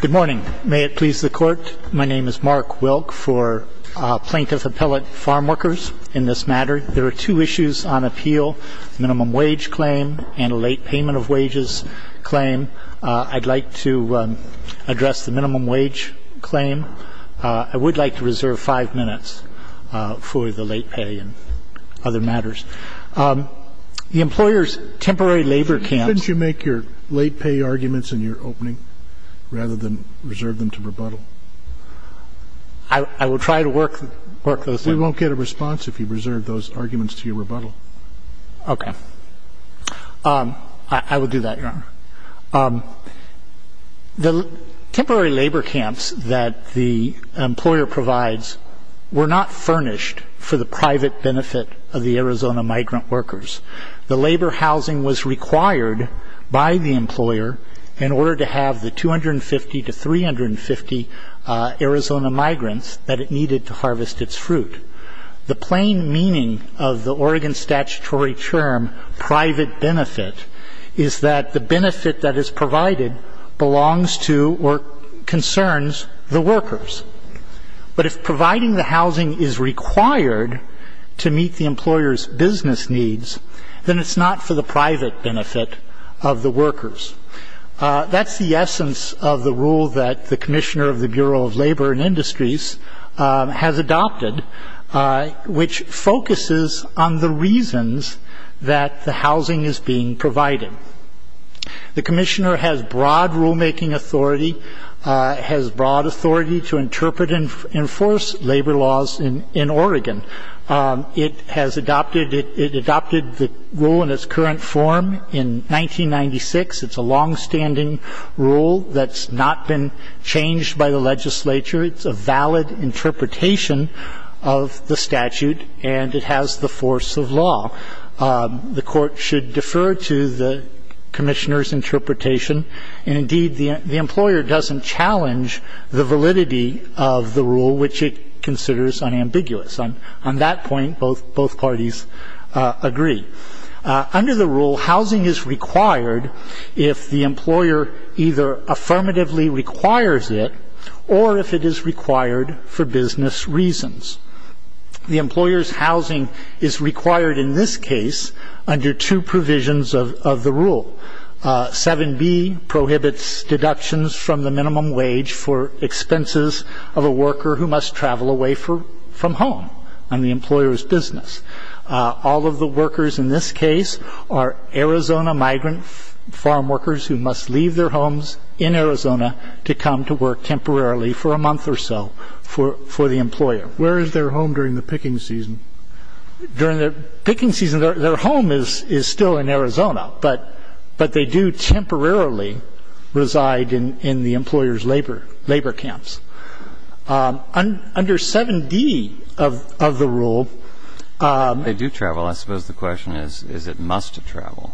Good morning. May it please the Court, my name is Mark Wilk for Plaintiff Appellate Farm Workers. In this matter, there are two issues on appeal, minimum wage claim and a late payment of wages claim. I'd like to address the minimum wage claim. I would like to reserve five minutes for the late pay and other matters. The employer's temporary labor can't- I would do that, Your Honor. The temporary labor camps that the employer provides were not furnished for the private benefit of the Arizona migrant workers. The labor housing was required by the employer in order to have the private benefit of the 250 to 350 Arizona migrants that it needed to harvest its fruit. The plain meaning of the Oregon statutory term, private benefit, is that the benefit that is provided belongs to or concerns the workers. But if providing the housing is required to meet the employer's business needs, then it's not for the private benefit of the workers. That's the essence of the rule that the Commissioner of the Bureau of Labor and Industries has adopted, which focuses on the reasons that the housing is being provided. The Commissioner has broad rulemaking authority, has broad authority to interpret and enforce labor laws in Oregon. It has adopted the rule in its current form in 1996. It's a longstanding rule that's not been changed by the legislature. It's a valid interpretation of the statute, and it has the force of law. The Court should defer to the Commissioner's interpretation. And, indeed, the employer doesn't challenge the validity of the rule, which it considers unambiguous. On that point, both parties agree. Under the rule, housing is required if the employer either affirmatively requires it or if it is required for business reasons. The employer's housing is required in this case under two provisions of the rule. 7B prohibits deductions from the minimum wage for expenses of a worker who must travel away from home on the employer's business. All of the workers in this case are Arizona migrant farm workers who must leave their homes in Arizona to come to work temporarily for a month or so for the employer. Where is their home during the picking season? During the picking season, their home is still in Arizona, but they do temporarily reside in the employer's labor camps. Under 7B of the rule ---- They do travel. I suppose the question is, is it must travel?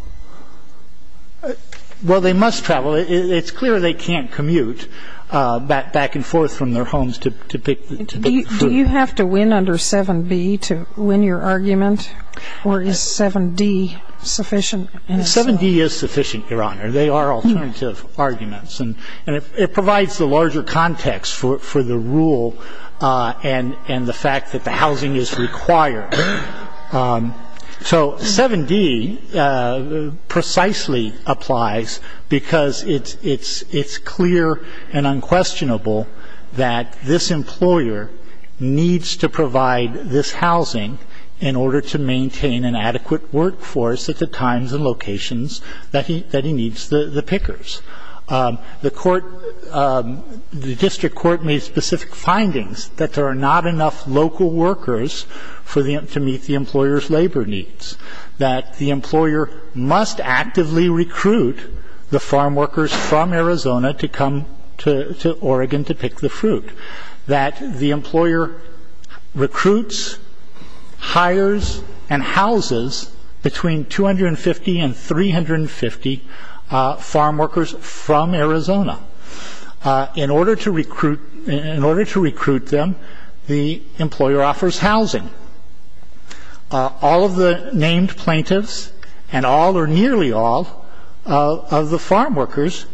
Well, they must travel. It's clear they can't commute back and forth from their homes to pick the fruit. Do you have to win under 7B to win your argument? Or is 7D sufficient? 7D is sufficient, Your Honor. They are alternative arguments. And it provides the larger context for the rule and the fact that the housing is required. So 7D precisely applies because it's clear and unquestionable that this employer needs to provide this housing in order to maintain an adequate workforce at the times and locations that he needs the pickers. The court ---- the district court made specific findings that there are not enough local workers to meet the employer's labor needs, that the employer must actively recruit the farm workers from Arizona to come to Oregon to pick the fruit, that the employer recruits, hires, and houses between 250 and 350 farm workers from Arizona. In order to recruit them, the employer offers housing. All of the named plaintiffs and all or nearly all of the farm workers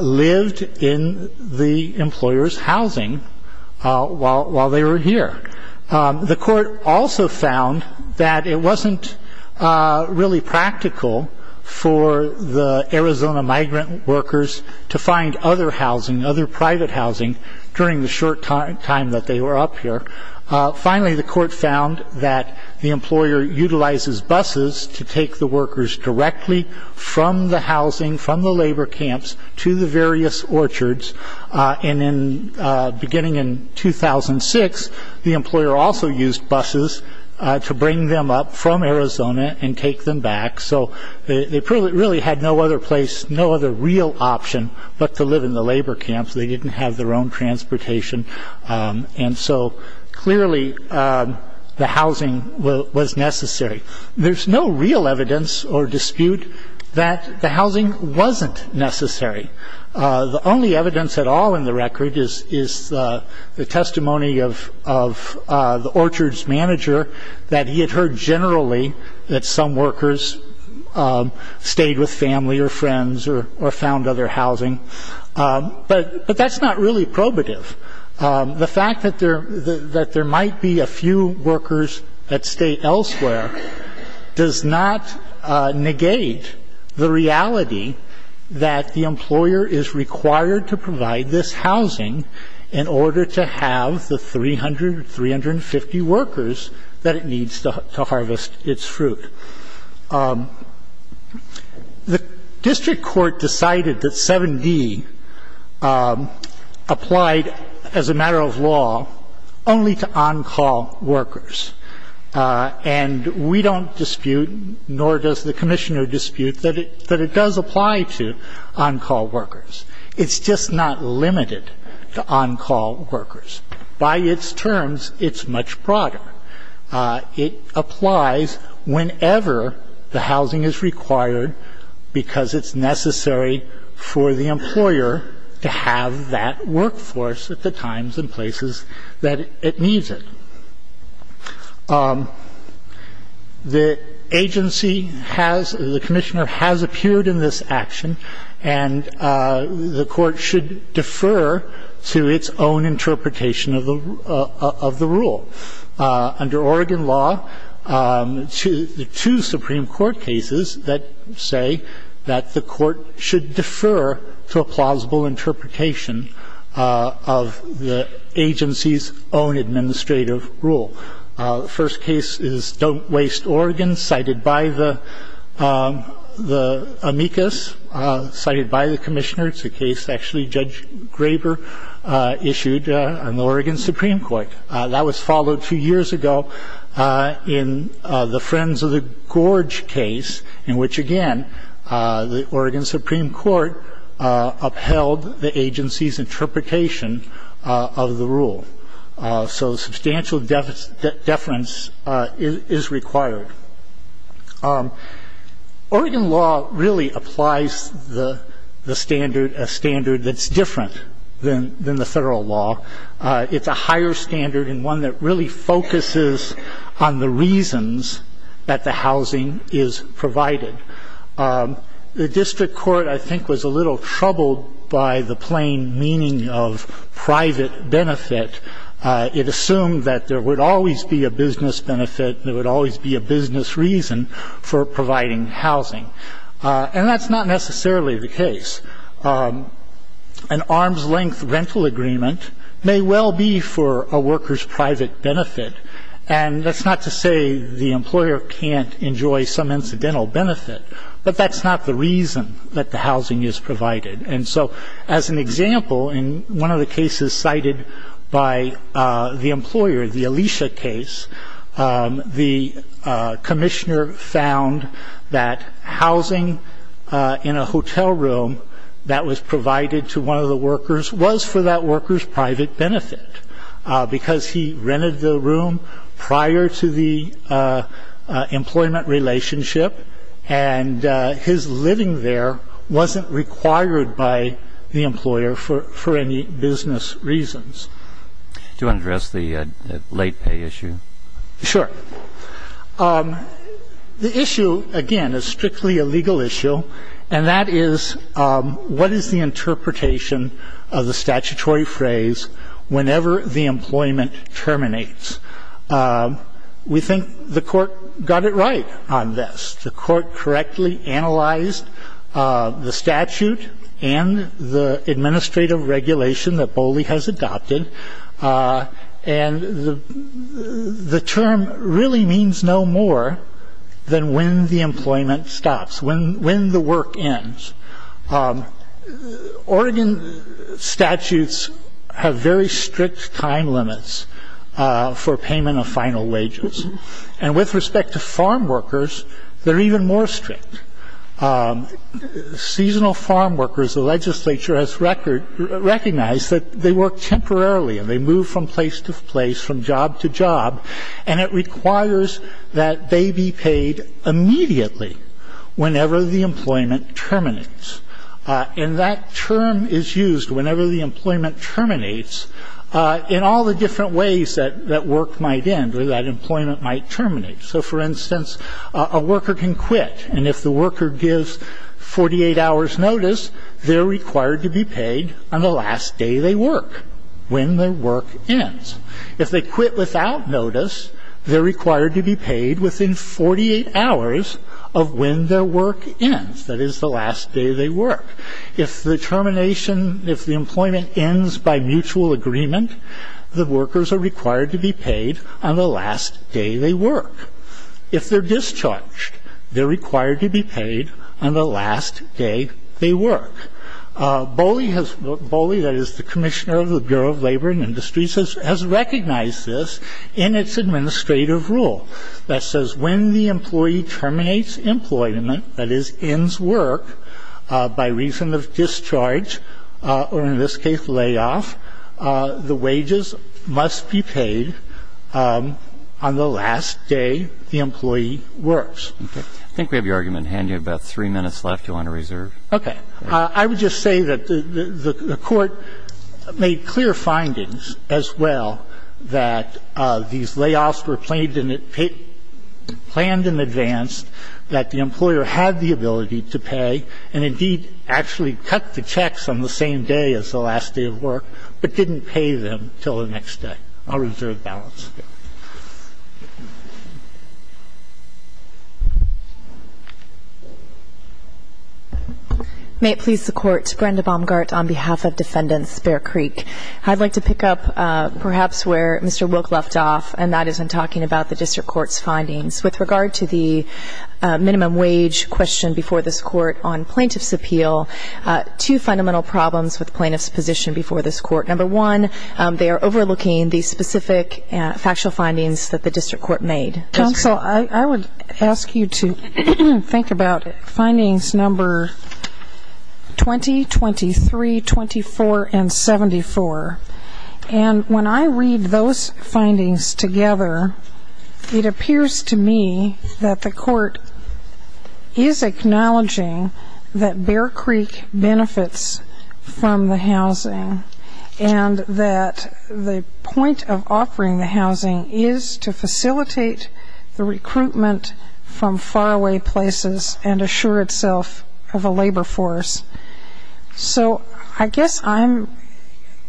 lived in the employer's housing while they were here. The court also found that it wasn't really practical for the Arizona migrant workers to find other housing, other private housing, during the short time that they were up here. Finally, the court found that the employer utilizes buses to take the workers directly from the housing, from the labor camps, to the various orchards. And beginning in 2006, the employer also used buses to bring them up from Arizona and take them back. So they really had no other place, no other real option but to live in the labor camps. They didn't have their own transportation. And so clearly the housing was necessary. There's no real evidence or dispute that the housing wasn't necessary. The only evidence at all in the record is the testimony of the orchards manager that he had heard generally that some workers stayed with family or friends or found other housing. But that's not really probative. The fact that there might be a few workers that stayed elsewhere does not negate the reality that the employer is required to provide this housing in order to have the 300 or 350 workers that it needs to harvest its fruit. The district court decided that 7D applied as a matter of law only to on-call workers. And we don't dispute, nor does the Commissioner dispute, that it does apply to on-call workers. It's just not limited to on-call workers. By its terms, it's much broader. It applies whenever the housing is required because it's necessary for the employer to have that workforce at the times and places that it needs it. The agency has, the Commissioner has appeared in this action, and the court should defer to its own interpretation of the rule. Under Oregon law, there are two Supreme Court cases that say that the court should defer to a plausible interpretation of the agency's own administrative rule. The first case is Don't Waste Oregon, cited by the amicus, cited by the Commissioner. It's a case actually Judge Graber issued on the Oregon Supreme Court. That was followed two years ago in the Friends of the Gorge case, in which, again, the Oregon Supreme Court upheld the agency's interpretation of the rule. So substantial deference is required. Oregon law really applies the standard, a standard that's different than the federal law. It's a higher standard and one that really focuses on the reasons that the housing is provided. The district court, I think, was a little troubled by the plain meaning of private benefit. It assumed that there would always be a business benefit, and there would always be a business reason for providing housing. And that's not necessarily the case. An arm's-length rental agreement may well be for a worker's private benefit. And that's not to say the employer can't enjoy some incidental benefit, but that's not the reason that the housing is provided. And so as an example, in one of the cases cited by the employer, the Alicia case, the commissioner found that housing in a hotel room that was provided to one of the workers was for that worker's private benefit, because he rented the room prior to the employment relationship, and his living there wasn't required by the employer for any business reasons. but that's not the case in this case. Do you want to address the late pay issue? Sure. The issue, again, is strictly a legal issue, and that is what is the interpretation of the statutory phrase, whenever the employment terminates? We think the court got it right on this. The court correctly analyzed the statute and the administrative regulation that Boley has adopted, and the term really means no more than when the employment stops, when the work ends. Oregon statutes have very strict time limits for payment of final wages, and with respect to farm workers, they're even more strict. Seasonal farm workers, the legislature has recognized that they work temporarily, and they move from place to place, from job to job, and it requires that they be paid immediately whenever the employment terminates. And that term is used whenever the employment terminates in all the different ways that work might end or that employment might terminate. So, for instance, a worker can quit, and if the worker gives 48 hours' notice, they're required to be paid on the last day they work, when their work ends. If they quit without notice, they're required to be paid within 48 hours of when their work ends, that is, the last day they work. If the termination, if the employment ends by mutual agreement, the workers are required to be paid on the last day they work. If they're discharged, they're required to be paid on the last day they work. BOLI has – BOLI, that is, the Commissioner of the Bureau of Labor and Industries, has recognized this in its administrative rule that says when the employee terminates employment, that is, ends work by reason of discharge, or in this case layoff, the wages must be paid on the last day the employee works. Okay. I think we have your argument in hand. You have about three minutes left. Do you want to reserve? Okay. I would just say that the Court made clear findings as well that these layoffs were planned in advance, that the employer had the ability to pay, and indeed actually cut the checks on the same day as the last day of work, but didn't pay them until the next day. I'll reserve balance. Thank you. May it please the Court, Brenda Baumgart on behalf of Defendants Bear Creek. I'd like to pick up perhaps where Mr. Wilk left off, and that is in talking about the District Court's findings. With regard to the minimum wage question before this Court on plaintiff's appeal, they are overlooking the specific factual findings that the District Court made. Counsel, I would ask you to think about findings number 20, 23, 24, and 74. And when I read those findings together, it appears to me that the Court is acknowledging that Bear Creek benefits from the housing, and that the point of offering the housing is to facilitate the recruitment from faraway places and assure itself of a labor force. So I guess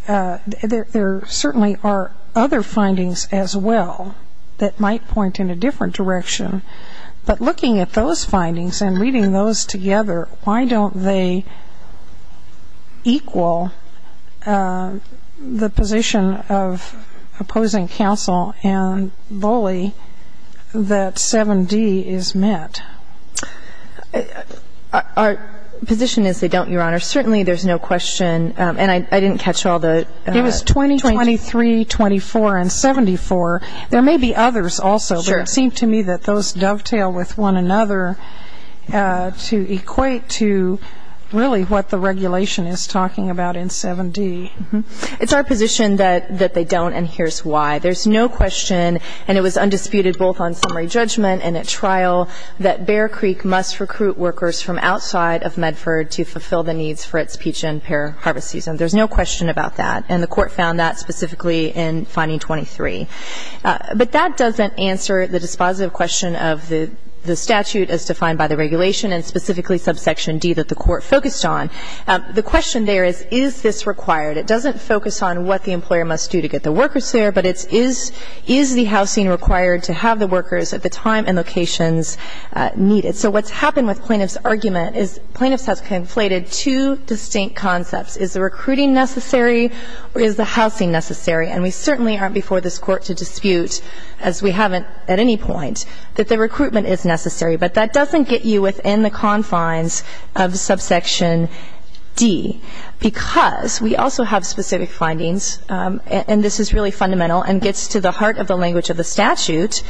there certainly are other findings as well that might point in a different direction. But looking at those findings and reading those together, why don't they equal the position of opposing counsel and bully that 7D is met? Our position is they don't, Your Honor. Certainly there's no question, and I didn't catch all the 20, 23, 24, and 74. There may be others also. Sure. But it seemed to me that those dovetail with one another to equate to really what the regulation is talking about in 7D. It's our position that they don't, and here's why. There's no question, and it was undisputed both on summary judgment and at trial, that Bear Creek must recruit workers from outside of Medford to fulfill the needs for its peach and pear harvest season. There's no question about that, and the Court found that specifically in finding 23. But that doesn't answer the dispositive question of the statute as defined by the regulation and specifically subsection D that the Court focused on. The question there is, is this required? It doesn't focus on what the employer must do to get the workers there, but it's is the housing required to have the workers at the time and locations needed. So what's happened with plaintiff's argument is plaintiff's has conflated two distinct concepts. Is the recruiting necessary or is the housing necessary? And we certainly aren't before this Court to dispute, as we haven't at any point, that the recruitment is necessary, but that doesn't get you within the confines of subsection D because we also have specific findings, and this is really fundamental and gets to the heart of the language of the statute,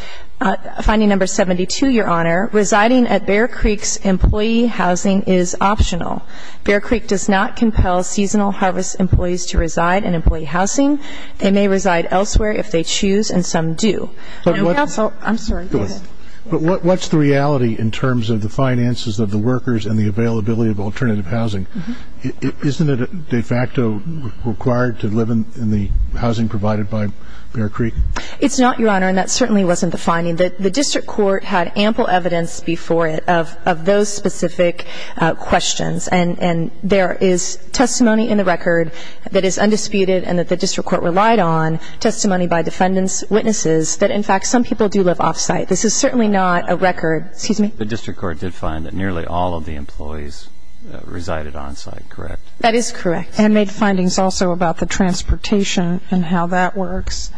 finding number 72, Your Honor. Residing at Bear Creek's employee housing is optional. Bear Creek does not compel seasonal harvest employees to reside in employee housing. They may reside elsewhere if they choose, and some do. I'm sorry. Go ahead. But what's the reality in terms of the finances of the workers and the availability of alternative housing? Isn't it de facto required to live in the housing provided by Bear Creek? It's not, Your Honor, and that certainly wasn't the finding. The district court had ample evidence before it of those specific questions, and there is testimony in the record that is undisputed and that the district court relied on testimony by defendants' witnesses that, in fact, some people do live off-site. This is certainly not a record. Excuse me? The district court did find that nearly all of the employees resided on-site, correct? That is correct. And made findings also about the transportation and how that works.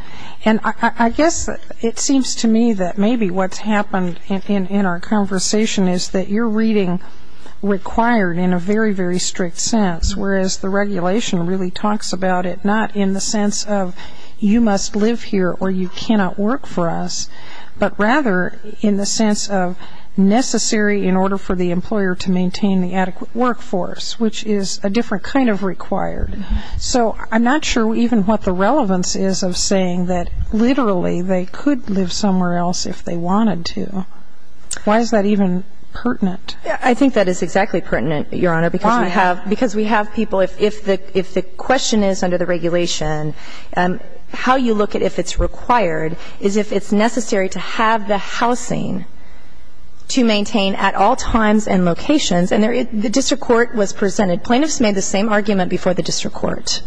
And I guess it seems to me that maybe what's happened in our conversation is that you're reading required in a very, very strict sense, whereas the regulation really talks about it not in the sense of you must live here or you cannot work for us, but rather in the sense of necessary in order for the employer to maintain the adequate workforce, which is a different kind of required. So I'm not sure even what the relevance is of saying that, literally, they could live somewhere else if they wanted to. Why is that even pertinent? I think that is exactly pertinent, Your Honor. Why? Because we have people, if the question is under the regulation, how you look at if it's required is if it's necessary to have the housing to maintain at all times and locations. And the district court was presented. Plaintiffs made the same argument before the district court,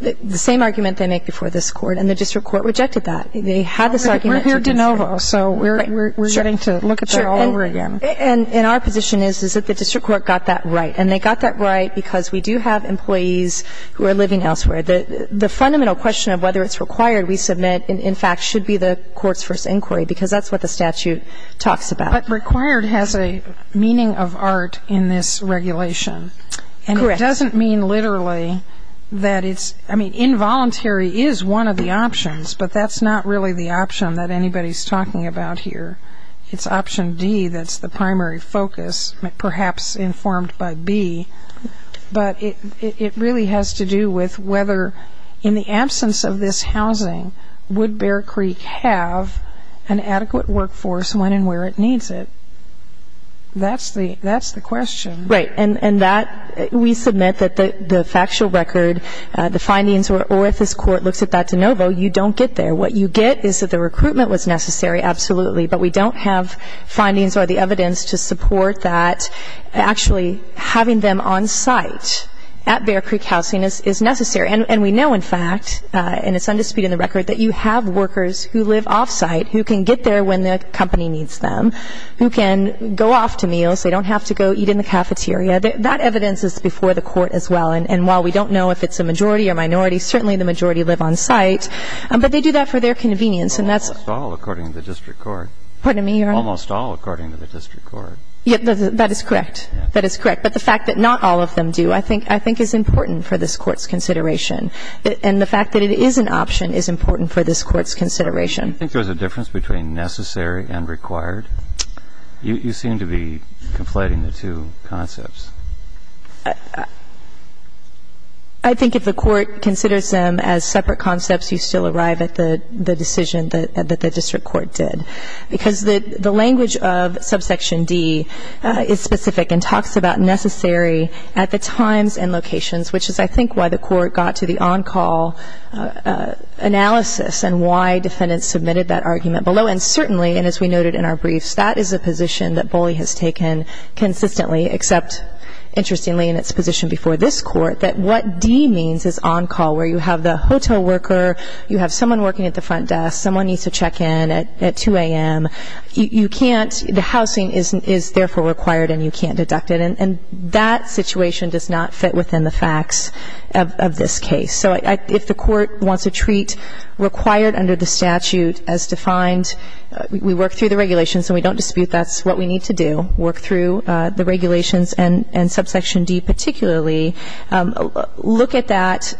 the same argument they make before this court, and the district court rejected that. We're here de novo, so we're getting to look at that all over again. And our position is that the district court got that right, and they got that right because we do have employees who are living elsewhere. The fundamental question of whether it's required we submit, in fact, should be the court's first inquiry because that's what the statute talks about. But required has a meaning of art in this regulation. Correct. And it doesn't mean literally that it's, I mean, involuntary is one of the options, but that's not really the option that anybody's talking about here. It's option D that's the primary focus, perhaps informed by B. But it really has to do with whether in the absence of this housing, would Bear Creek have an adequate workforce when and where it needs it? That's the question. Right. And that, we submit that the factual record, the findings or if this court looks at that de novo, you don't get there. What you get is that the recruitment was necessary, absolutely, but we don't have findings or the evidence to support that actually having them on site at Bear Creek Housing is necessary. And we know, in fact, and it's undisputed in the record, that you have workers who live off-site who can get there when the company needs them, who can go off to meals. They don't have to go eat in the cafeteria. That evidence is before the court as well. And while we don't know if it's a majority or minority, certainly the majority live on site. But they do that for their convenience. And that's almost all according to the district court. Pardon me, Your Honor? Almost all according to the district court. That is correct. That is correct. But the fact that not all of them do, I think, I think is important for this Court's consideration. And the fact that it is an option is important for this Court's consideration. Do you think there's a difference between necessary and required? You seem to be conflating the two concepts. I think if the court considers them as separate concepts, you still arrive at the decision that the district court did. Because the language of subsection D is specific and talks about necessary at the times and locations, which is, I think, why the court got to the on-call analysis and why defendants submitted that argument below. And certainly, and as we noted in our briefs, that is a position that Boley has taken consistently, except, interestingly, in its position before this Court, that what D means is on-call, where you have the hotel worker, you have someone working at the front desk, someone needs to check in at 2 a.m. You can't, the housing is therefore required and you can't deduct it. And that situation does not fit within the facts of this case. So if the court wants to treat required under the statute as defined, we work through the regulations and we don't dispute that's what we need to do, work through the regulations and subsection D particularly. Look at that,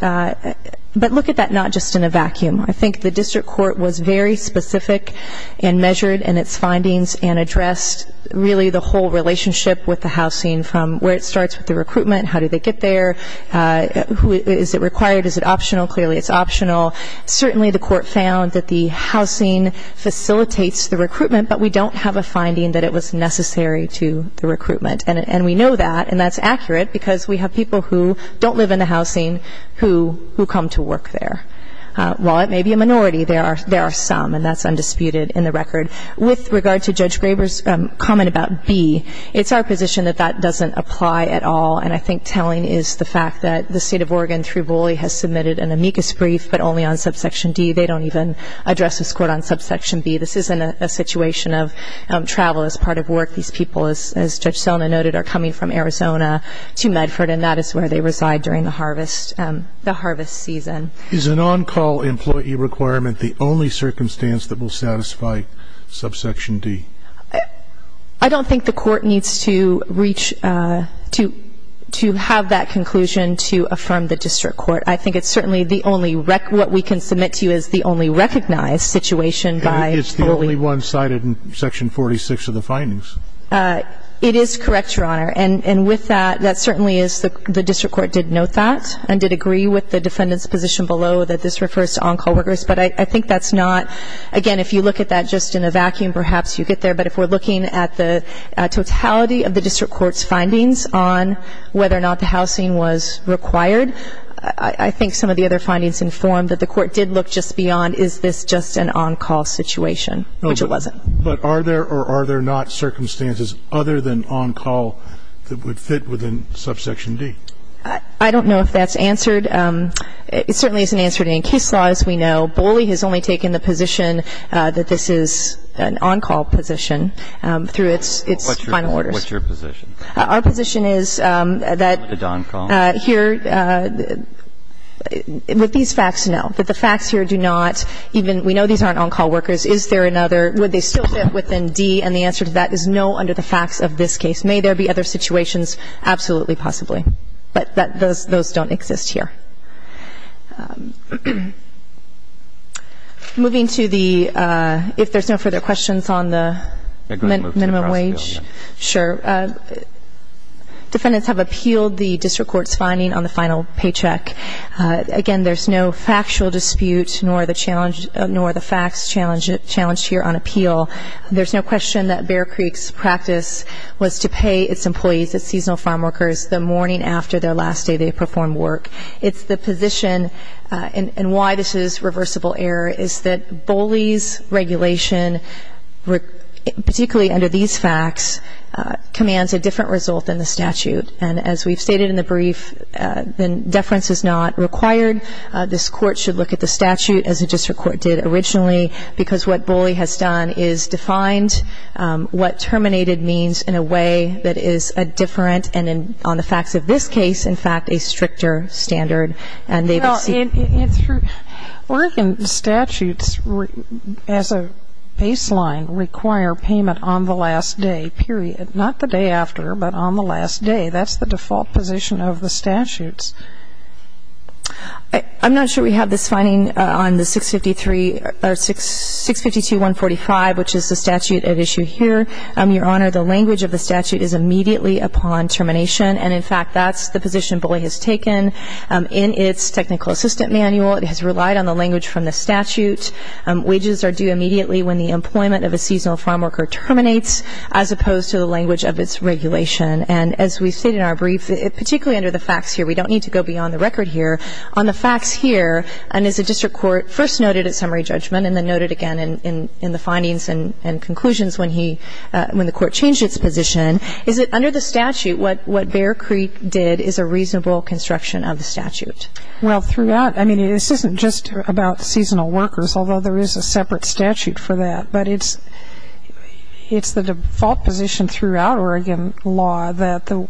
but look at that not just in a vacuum. I think the district court was very specific and measured in its findings and addressed really the whole relationship with the housing from where it starts with the recruitment, how do they get there, is it required, is it optional, clearly it's optional. Certainly the court found that the housing facilitates the recruitment, but we don't have a finding that it was necessary to the recruitment. And we know that, and that's accurate, because we have people who don't live in the housing who come to work there. While it may be a minority, there are some, and that's undisputed in the record. With regard to Judge Graber's comment about B, it's our position that that doesn't apply at all, and I think telling is the fact that the State of Oregon, through Voley, has submitted an amicus brief, but only on subsection D. They don't even address this Court on subsection B. This isn't a situation of travel as part of work. These people, as Judge Selna noted, are coming from Arizona to Medford, and that is where they reside during the harvest season. Is an on-call employee requirement the only circumstance that will satisfy subsection D? I don't think the court needs to reach to have that conclusion to affirm the district court. I think it's certainly the only, what we can submit to you is the only recognized situation by Voley. And it's the only one cited in section 46 of the findings. It is correct, Your Honor, and with that, that certainly is, the district court did note that and did agree with the defendant's position below that this refers to on-call workers, but I think that's not, again, if you look at that just in a vacuum, perhaps you get there, but if we're looking at the totality of the district court's findings on whether or not the housing was required, I think some of the other findings inform that the court did look just beyond is this just an on-call situation, which it wasn't. But are there or are there not circumstances other than on-call that would fit within subsection D? I don't know if that's answered. It certainly isn't answered in case law, as we know. Voley has only taken the position that this is an on-call position through its final orders. What's your position? Our position is that here, would these facts know? That the facts here do not, even we know these aren't on-call workers. Is there another? Would they still fit within D? And the answer to that is no under the facts of this case. May there be other situations? Absolutely possibly. But those don't exist here. Moving to the, if there's no further questions on the minimum wage. Sure. Defendants have appealed the district court's finding on the final paycheck. Again, there's no factual dispute nor the facts challenged here on appeal. There's no question that Bear Creek's practice was to pay its employees, its seasonal farm workers, the morning after their last day they performed work. It's the position, and why this is reversible error, is that Boley's regulation, particularly under these facts, commands a different result than the statute. And as we've stated in the brief, then deference is not required. This court should look at the statute as the district court did originally, because what Boley has done is defined what terminated means in a way that is a different and on the facts of this case, in fact, a stricter standard. Working statutes as a baseline require payment on the last day, period. Not the day after, but on the last day. That's the default position of the statutes. I'm not sure we have this finding on the 652.145, which is the statute at issue here. Your Honor, the language of the statute is immediately upon termination. And, in fact, that's the position Boley has taken. In its technical assistant manual, it has relied on the language from the statute. Wages are due immediately when the employment of a seasonal farm worker terminates, as opposed to the language of its regulation. And as we've stated in our brief, particularly under the facts here, we don't need to go beyond the record here. On the facts here, and as the district court first noted at summary judgment and then noted again in the findings and conclusions when the court changed its position, is that under the statute what Bear Creek did is a reasonable construction of the statute. Well, throughout, I mean, this isn't just about seasonal workers, although there is a separate statute for that. But it's the default position throughout Oregon law that the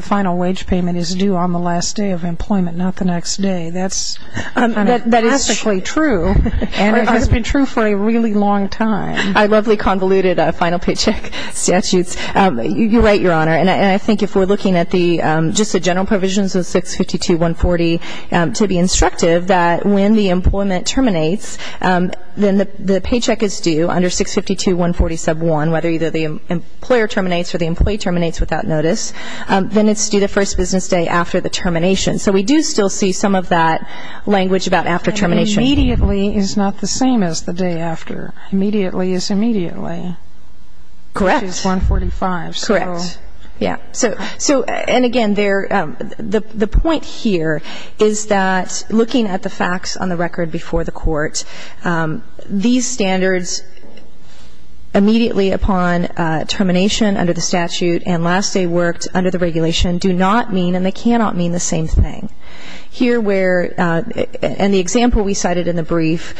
final wage payment is due on the last day of employment, not the next day. That's unethically true, and it has been true for a really long time. I lovely convoluted final paycheck statutes. You're right, Your Honor. And I think if we're looking at just the general provisions of 652.140 to be instructive, that when the employment terminates, then the paycheck is due under 652.140 sub 1, whether either the employer terminates or the employee terminates without notice. Then it's due the first business day after the termination. So we do still see some of that language about after termination. And immediately is not the same as the day after. Immediately is immediately. Correct. Which is 145. Correct. Yeah. So, and again, the point here is that looking at the facts on the record before the court, these standards immediately upon termination under the statute and last day worked under the regulation do not mean and they cannot mean the same thing. Here where, and the example we cited in the brief,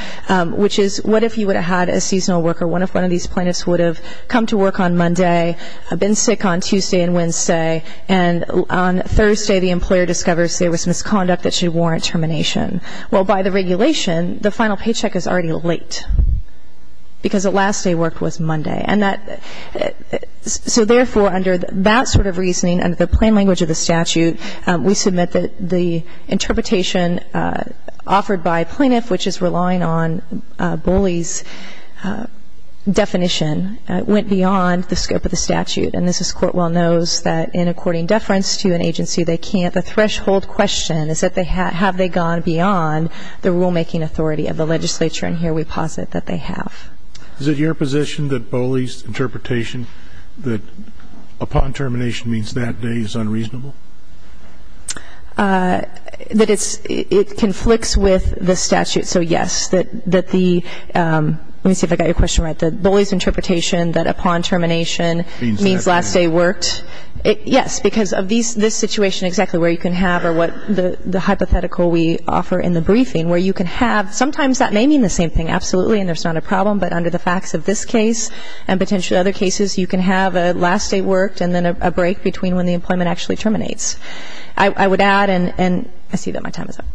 which is what if you would have had a seasonal worker, what if one of these plaintiffs would have come to work on Monday, been sick on Tuesday and Wednesday, and on Thursday the employer discovers there was misconduct that should warrant termination. Well, by the regulation, the final paycheck is already late because the last day worked was Monday. So, therefore, under that sort of reasoning, under the plain language of the statute, we submit that the interpretation offered by a plaintiff, which is relying on BOLI's definition, went beyond the scope of the statute. And this is court well knows that in according deference to an agency they can't, the threshold question is have they gone beyond the rulemaking authority of the legislature. And here we posit that they have. Is it your position that BOLI's interpretation that upon termination means that day is unreasonable? That it conflicts with the statute. So, yes, that the, let me see if I got your question right, that BOLI's interpretation that upon termination means last day worked. Yes, because of this situation exactly where you can have or what the hypothetical we offer in the briefing, where you can have, sometimes that may mean the same thing absolutely and there's not a problem, but under the facts of this case and potentially other cases you can have a last day worked and then a break between when the employment actually terminates. I would add, and I see that my time is up.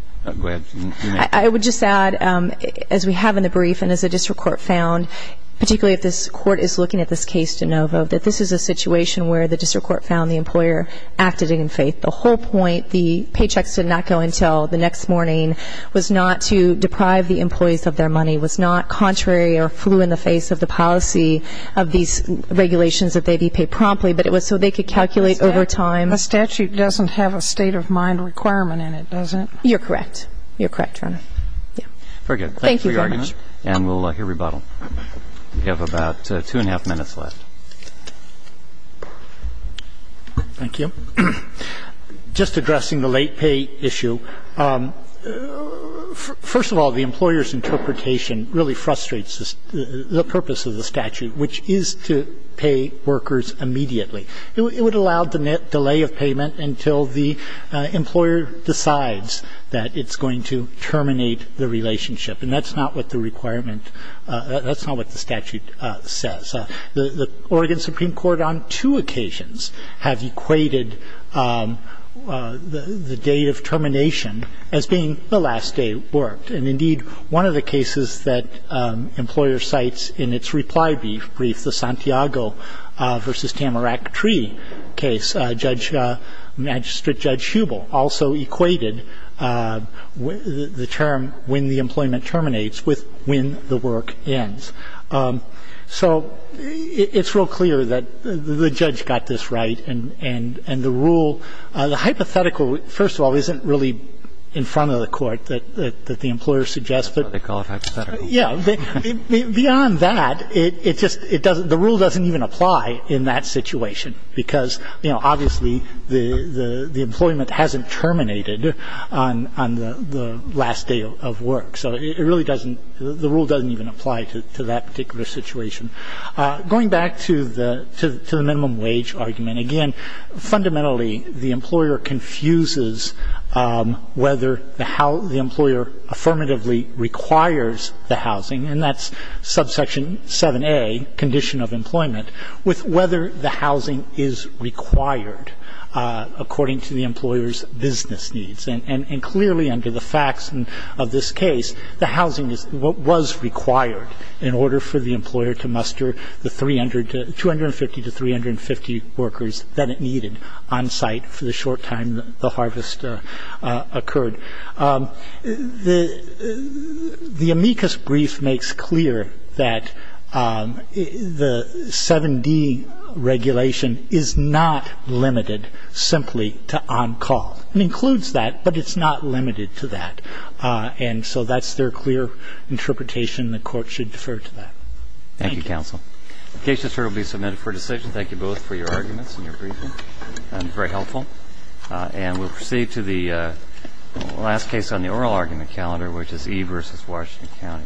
Go ahead. I would just add, as we have in the brief and as the district court found, particularly if this court is looking at this case de novo, that this is a situation where the district court found the employer acted it in faith. The whole point, the paychecks did not go until the next morning, was not to deprive the employees of their money, was not contrary or flew in the face of the policy of these regulations that they be paid promptly, but it was so they could calculate over time. The statute doesn't have a state of mind requirement in it, does it? You're correct. You're correct, Your Honor. Very good. Thank you very much. And we'll hear rebuttal. We have about two and a half minutes left. Thank you. Just addressing the late pay issue. First of all, the employer's interpretation really frustrates the purpose of the statute, which is to pay workers immediately. It would allow the delay of payment until the employer decides that it's going to terminate the relationship, and that's not what the requirement, that's not what the statute says. The Oregon Supreme Court on two occasions have equated the date of termination as being the last day worked, and indeed one of the cases that employer cites in its reply brief, the Santiago v. Tamarack Tree case, Magistrate Judge Schuble also equated the term when the employment terminates with when the work ends. So it's real clear that the judge got this right, and the rule, the hypothetical, first of all, isn't really in front of the court that the employer suggests. They call it hypothetical. Yeah. Beyond that, it just, it doesn't, the rule doesn't even apply in that situation because, you know, obviously the employment hasn't terminated on the last day of work. So it really doesn't, the rule doesn't even apply to that particular situation. Going back to the minimum wage argument, again, fundamentally the employer confuses whether the employer affirmatively requires the housing, and that's subsection 7a, condition of employment, with whether the housing is required according to the employer's business needs. And clearly under the facts of this case, the housing was required in order for the employer to muster the 250 to 350 workers that it needed on site for the short time the harvest occurred. The amicus brief makes clear that the 7d regulation is not limited simply to on call. It includes that, but it's not limited to that. And so that's their clear interpretation. The court should defer to that. Thank you, counsel. The case just heard will be submitted for decision. Thank you both for your arguments and your briefing. It was very helpful. And we'll proceed to the last case on the oral argument calendar, which is E versus Washington County. Thank you.